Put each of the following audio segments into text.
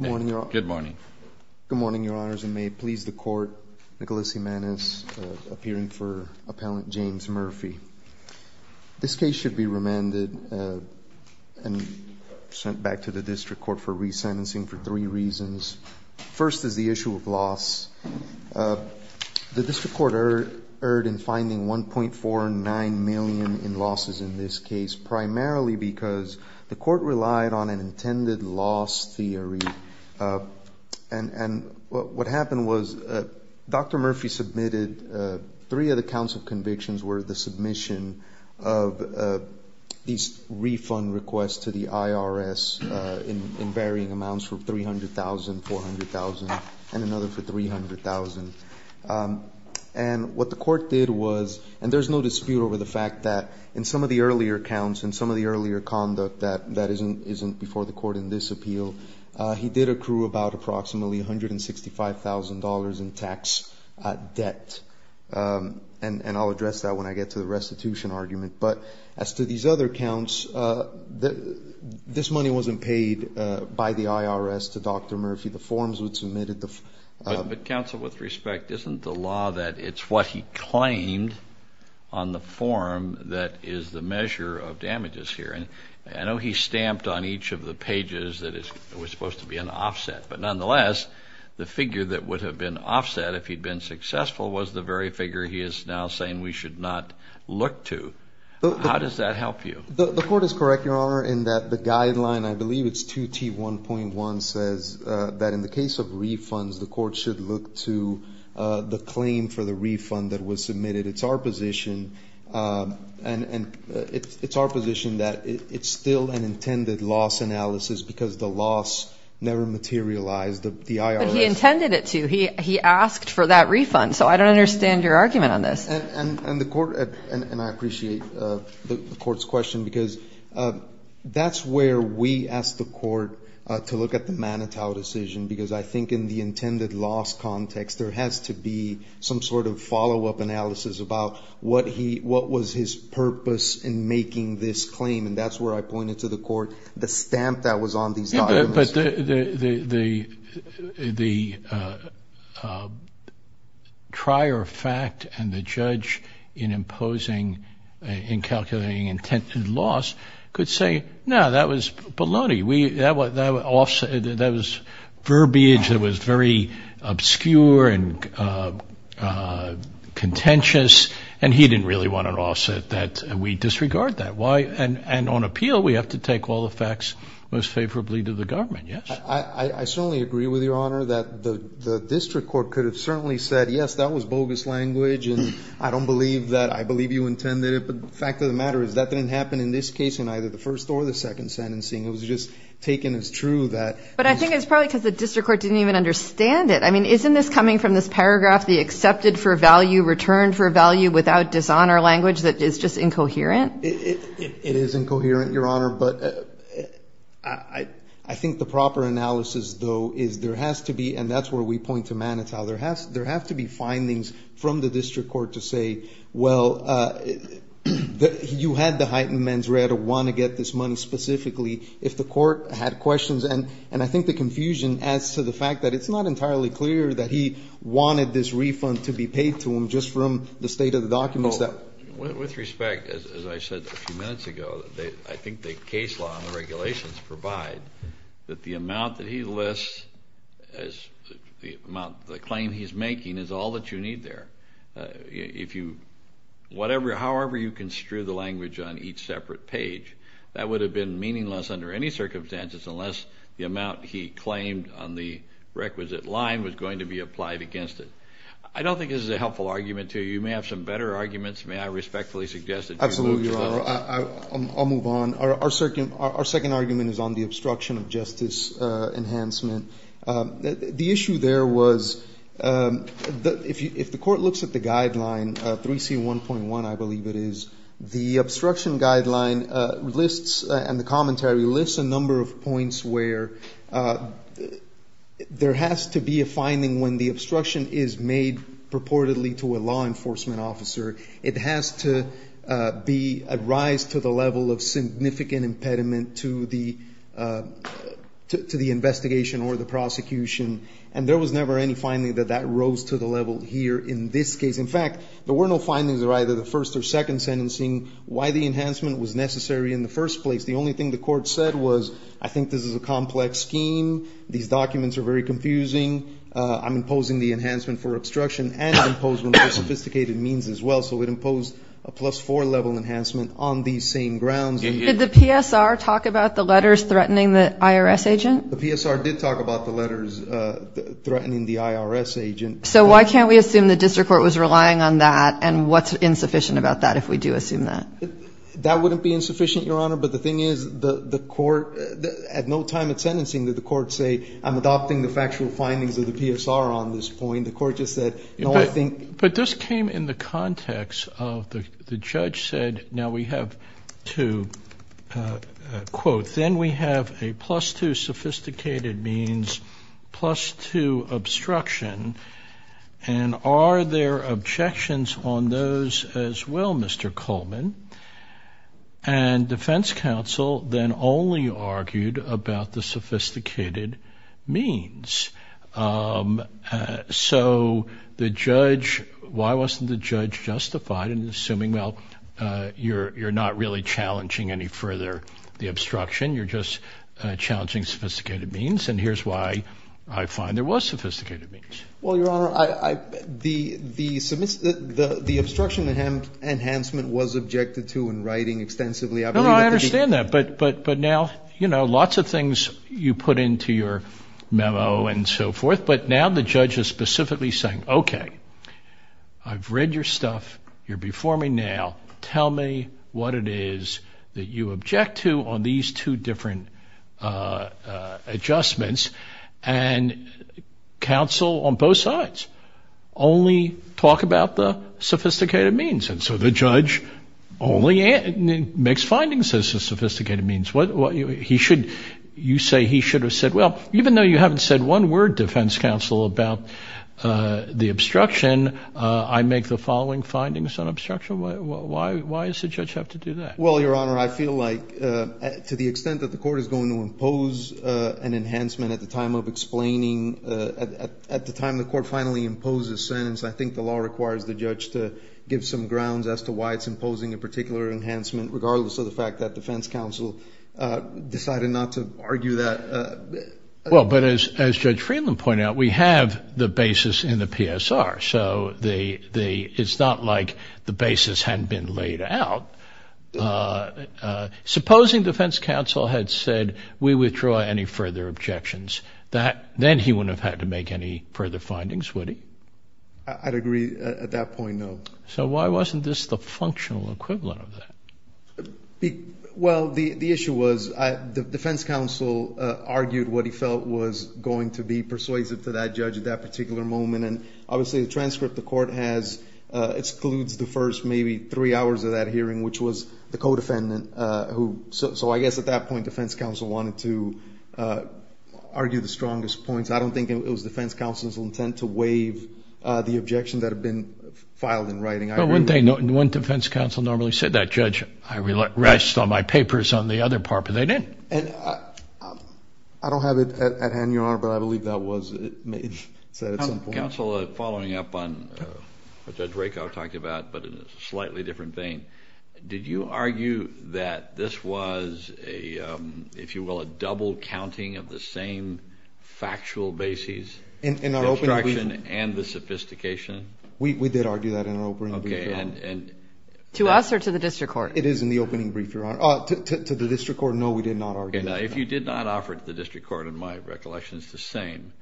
Good morning, Your Honor. Good morning. Good morning, Your Honors, and may it please the Court, Nicholas Jimenez, appearing for Appellant James Murphy. This case should be remanded and sent back to the District Court for re-sentencing for three reasons. First is the issue of loss. The District Court erred in finding $1.49 million in losses in this case, primarily because the Court relied on an intended loss theory. And what happened was, Dr. Murphy submitted three of the counts of convictions were the submission of these refund requests to the IRS in varying amounts for $300,000, $400,000, and another for $300,000. And what the Court did was, and there's no dispute over the fact that in some of the earlier counts and some of the earlier conduct that isn't before the Court in this appeal, he did accrue about approximately $165,000 in tax debt. And I'll address that when I get to the restitution argument. But as to these other counts, this money wasn't paid by the IRS to Dr. Murphy. The forms were submitted. But counsel, with respect, isn't the law that it's what he claimed on the form that is the measure of damages here. And I know he stamped on each of the pages that it was supposed to be an offset. But nonetheless, the figure that would have been offset if he'd been successful was the very figure he is now saying we should not look to. How does that help you? The Court is correct, Your Honor, in that the guideline, I believe it's 2T1.1, says that in the case of refunds, the Court should look to the claim for the refund that was It's our position that it's still an intended loss analysis because the loss never materialized. But he intended it to. He asked for that refund. So I don't understand your argument on this. And I appreciate the Court's question because that's where we ask the Court to look at the Manitow decision because I think in the intended loss context, there has to be some sort of making this claim. And that's where I pointed to the Court, the stamp that was on these documents. But the trier of fact and the judge in imposing, in calculating intended loss could say, no, that was baloney. That was verbiage that was very obscure and contentious. And he didn't really want an offset that we disregard that. Why? And on appeal, we have to take all the facts most favorably to the government. Yes? I certainly agree with Your Honor that the district court could have certainly said, yes, that was bogus language. And I don't believe that. I believe you intended it. But the fact of the matter is that didn't happen in this case in either the first or the second sentencing. It was just taken as true that But I think it's probably because the district court didn't even understand it. I mean, isn't this coming from this paragraph, the accepted for value, returned for value without dishonor language that is just incoherent? It is incoherent, Your Honor. But I think the proper analysis, though, is there has to be, and that's where we point to Manitow, there have to be findings from the district court to say, well, you had the heightened mens rea to want to get this money specifically if the court had questions. And I think the confusion adds to the fact that it's not entirely clear that he wanted this refund to be paid to him just from the state of the documents that With respect, as I said a few minutes ago, I think the case law and the regulations provide that the amount that he lists, the amount, the claim he's making is all that you need there. If you, whatever, however you construe the language on each separate page, that would have been meaningless under any circumstances unless the amount he claimed on the requisite line was going to be applied against it. I don't think this is a helpful argument to you. You may have some better arguments. May I respectfully suggest that you move to that? Absolutely, Your Honor. I'll move on. Our second argument is on the obstruction of justice enhancement. The issue there was that if the court looks at the guideline, 3C1.1, I believe it is, the obstruction guideline lists and the commentary lists a number of points where there has to be a finding when the obstruction is made purportedly to a law enforcement officer. It has to be a rise to the level of significant impediment to the investigation or the prosecution. And there was never any finding that that rose to the level here in this case. In fact, there were no findings of either the first or second sentencing why the enhancement was necessary in the first place. The only thing the court said was, I think this is a complex scheme. These documents are very confusing. I'm imposing the enhancement for obstruction and imposing sophisticated means as well. So it imposed a plus four level enhancement on these same grounds. Did the PSR talk about the letters threatening the IRS agent? The PSR did talk about the letters threatening the IRS agent. So why can't we assume the district court was relying on that? And what's insufficient about that if we do assume that? That wouldn't be insufficient, Your Honor. But the thing is, the court at no time at the court say, I'm adopting the factual findings of the PSR on this point. The court just said, no, I think. But this came in the context of the judge said, now we have two, quote, then we have a plus two sophisticated means plus two obstruction. And are there objections on those as well, Mr. Coleman? And defense counsel then only argued about the sophisticated means. So the judge, why wasn't the judge justified in assuming, well, you're not really challenging any further the obstruction, you're just challenging sophisticated means. And here's why I find there was sophisticated means. Well, Your Honor, the obstruction enhancement was objected to in writing extensively. No, I understand that. But now, you know, lots of things you put into your memo and so forth. But now the judge is specifically saying, okay, I've read your stuff. You're before me now. Tell me what it is that you object to on these two different adjustments. And counsel on both sides only talk about the sophisticated means. And so the judge only makes findings as to sophisticated means. You say he should have said, well, even though you haven't said one word, defense counsel, about the obstruction, I make the following findings on obstruction. Why does the judge have to do that? Well, Your Honor, I feel like to the extent that the court is going to impose an enhancement at the time of explaining, at the time the court finally imposes sentence, I think the particular enhancement, regardless of the fact that defense counsel decided not to argue that. Well, but as Judge Friedland pointed out, we have the basis in the PSR. So it's not like the basis hadn't been laid out. Supposing defense counsel had said we withdraw any further objections, then he wouldn't have had to make any further findings, would he? I'd agree at that point, no. So why wasn't this the functional equivalent of that? Well, the issue was the defense counsel argued what he felt was going to be persuasive to that judge at that particular moment. And obviously the transcript the court has excludes the first maybe three hours of that hearing, which was the co-defendant. So I guess at that point, defense counsel wanted to argue the strongest points. I don't think it was defense counsel's intent to waive the objection that had been filed in writing. But wouldn't they, wouldn't defense counsel normally say that, Judge, I rest all my papers on the other part, but they didn't. And I don't have it at hand, Your Honor, but I believe that was said at some point. Counsel, following up on what Judge Rakow talked about, but in a slightly different vein, did you argue that this was a, if you did not offer it to the district court, in my recollection, it's the same.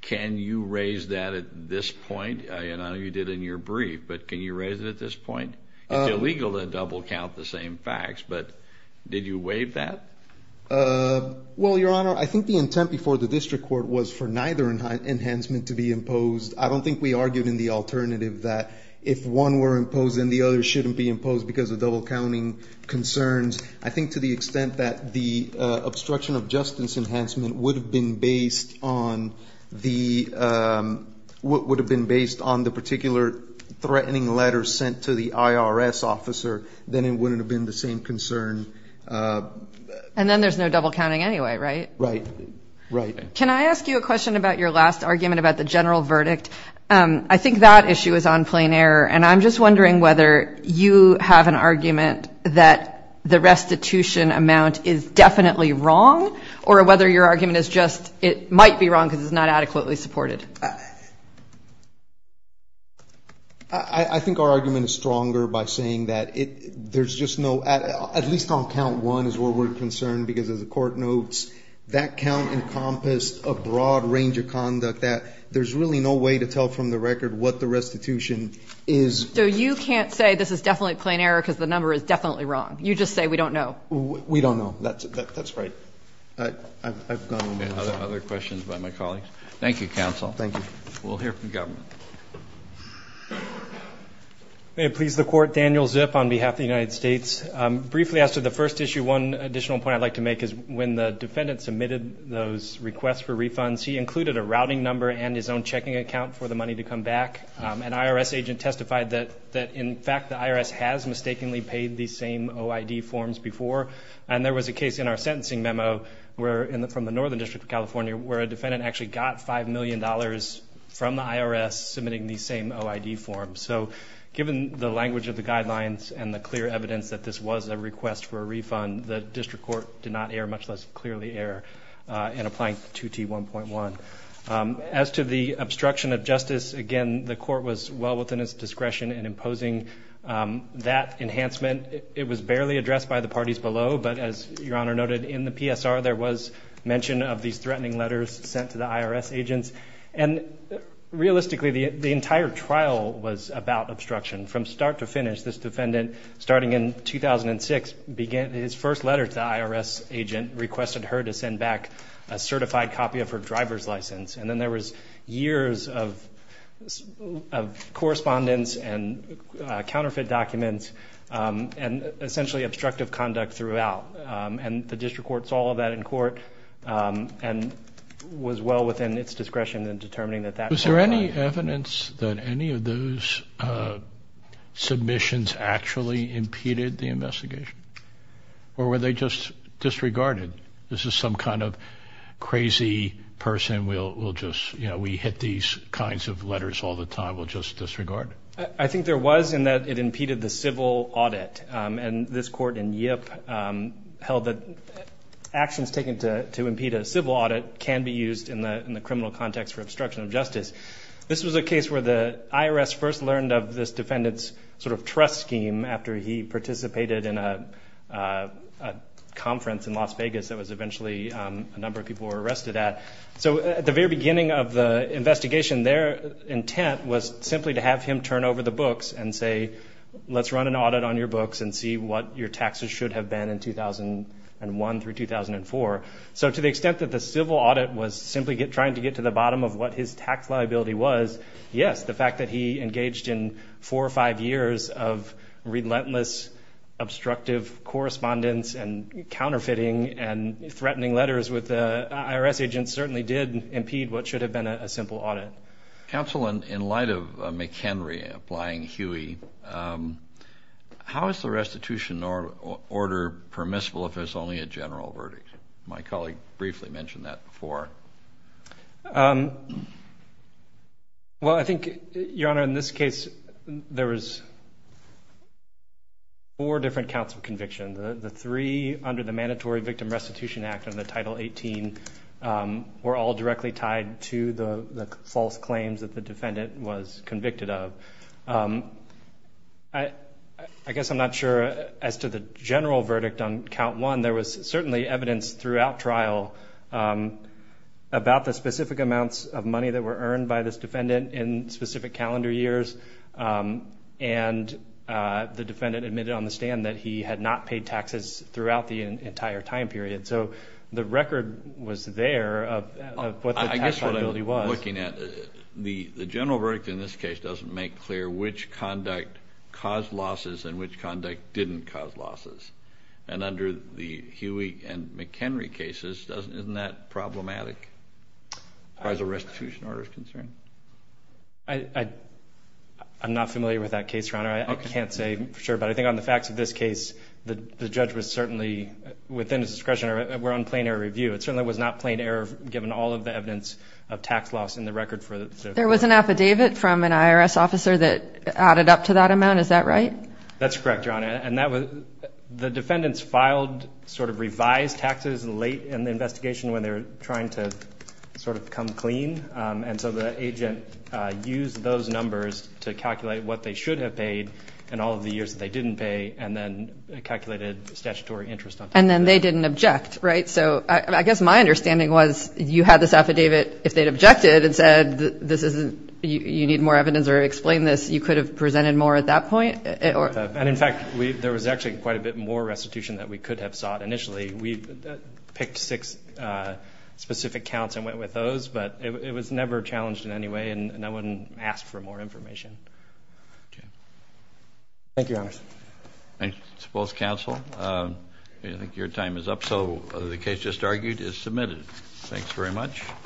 Can you raise that at this point? I don't know if you did in your brief, but can you raise it at this point? It's illegal to double count the same facts, but did you waive that? Well, Your Honor, I think the intent before the district court was for neither enhancement to be imposed. I don't think we argued in the alternative that if one were imposed, then the other shouldn't be imposed because of double counting concerns. I think to the extent that the obstruction of justice enhancement would have been based on the, would have been based on the particular threatening letter sent to the IRS officer, then it wouldn't have been the same concern. And then there's no double counting anyway, right? Right. Can I ask you a question about your last argument about the general verdict? I think that issue is on plain error, and I'm just wondering whether you have an argument that the restitution amount is definitely wrong, or whether your argument is just it might be wrong because it's not adequately supported. I think our argument is stronger by saying that there's just no, at least on count one is where we're concerned, because as the court notes, that count encompassed a broad range of conduct that there's really no way to tell from the record what the restitution is. So you can't say this is definitely a plain error because the number is definitely wrong. You just say we don't know. We don't know. That's right. I've gone on to other questions by my colleagues. Thank you, counsel. Thank you. We'll hear from the government. May it please the court. Daniel Zip on behalf of the United States. Briefly as to the first issue, one additional point I'd like to make is when the defendant submitted those requests for refunds, he included a routing number and his own checking account for the money to come back. An IRS agent testified that in fact the IRS has mistakenly paid these same OID forms before. And there was a case in our sentencing memo from the Northern District of California where a defendant actually got $5 million from the IRS submitting these same OID forms. So given the language of the guidelines and the clear evidence that this was a request for a refund, the district court did not err, much less clearly err in applying 2T1.1. As to the obstruction of justice, again, the court was well within its discretion in imposing that enhancement. It was barely addressed by the parties below, but as Your Honor noted, in the PSR there was mention of these threatening letters sent to the IRS agents. And realistically, the entire trial was about obstruction. From start to finish, this defendant, starting in 2006, his first letter to the IRS agent requested her to send back a certified copy of her driver's license. And then there was years of correspondence and counterfeit documents and essentially obstructive conduct throughout. And the district court saw all of that in court and was well within its discretion in determining that that... Was there any evidence that any of those submissions actually impeded the investigation? Or were they just disregarded? This is some kind of crazy person, we'll just, you know, we hit these kinds of letters all the time, we'll just disregard it? I think there was in that it impeded the civil audit. And this court in Yip held that actions taken to impede a civil audit can be used in the criminal context for obstruction of justice. This was a case where the IRS first learned of this defendant's sort of trust scheme after he participated in a conference in Las Vegas that was eventually a number of people were arrested at. So at the very beginning of the investigation, their intent was simply to have him turn over the books and say, let's run an audit on your books and see what your taxes should have been in 2001 through 2004. So to the extent that the civil audit was simply trying to get to the bottom of what his tax liability was, yes, the fact that he engaged in four or five years of relentless obstructive correspondence and counterfeiting and threatening letters with the IRS agent certainly did impede what In light of McHenry applying Huey, how is the restitution order permissible if there's only a general verdict? My colleague briefly mentioned that before. Well, I think, Your Honor, in this case, there was four different counts of conviction. The three under the Mandatory Victim Restitution Act under Title 18 were all directly tied to the false claims that the defendant was convicted of. I guess I'm not sure as to the general verdict on count one, there was certainly evidence throughout trial about the specific amounts of money that were earned by this defendant in specific calendar years. And the defendant admitted on the stand that he had not paid taxes throughout the entire time period. So the record was there of what the tax liability was. The general verdict in this case doesn't make clear which conduct caused losses and which conduct didn't cause losses. And under the Huey and McHenry cases, isn't that problematic as far as the restitution order is concerned? I'm not familiar with that case, Your Honor. I can't say for sure. But I think on the facts of this case, the judge was certainly within his discretion. We're on plain error review. It certainly was not plain error given all of the evidence of tax loss in the record. There was an affidavit from an IRS officer that added up to that amount. Is that right? That's correct, Your Honor. And the defendants filed sort of revised taxes late in the investigation when they were trying to sort of come clean. And so the agent used those numbers to calculate what they should have paid in all of the years that they didn't pay and then calculated statutory interest on that. And then they didn't object, right? So I guess my understanding was you had this affidavit. If they'd objected and said, this isn't, you need more evidence or explain this, you could have presented more at that point? And in fact, there was actually quite a bit more restitution that we could have sought initially. We picked six specific counts and went with those. But it was never challenged in any way. And no one asked for more information. Thank you, Your Honor. I suppose, counsel, I think your time is up. So the case just argued is submitted. Thanks very much.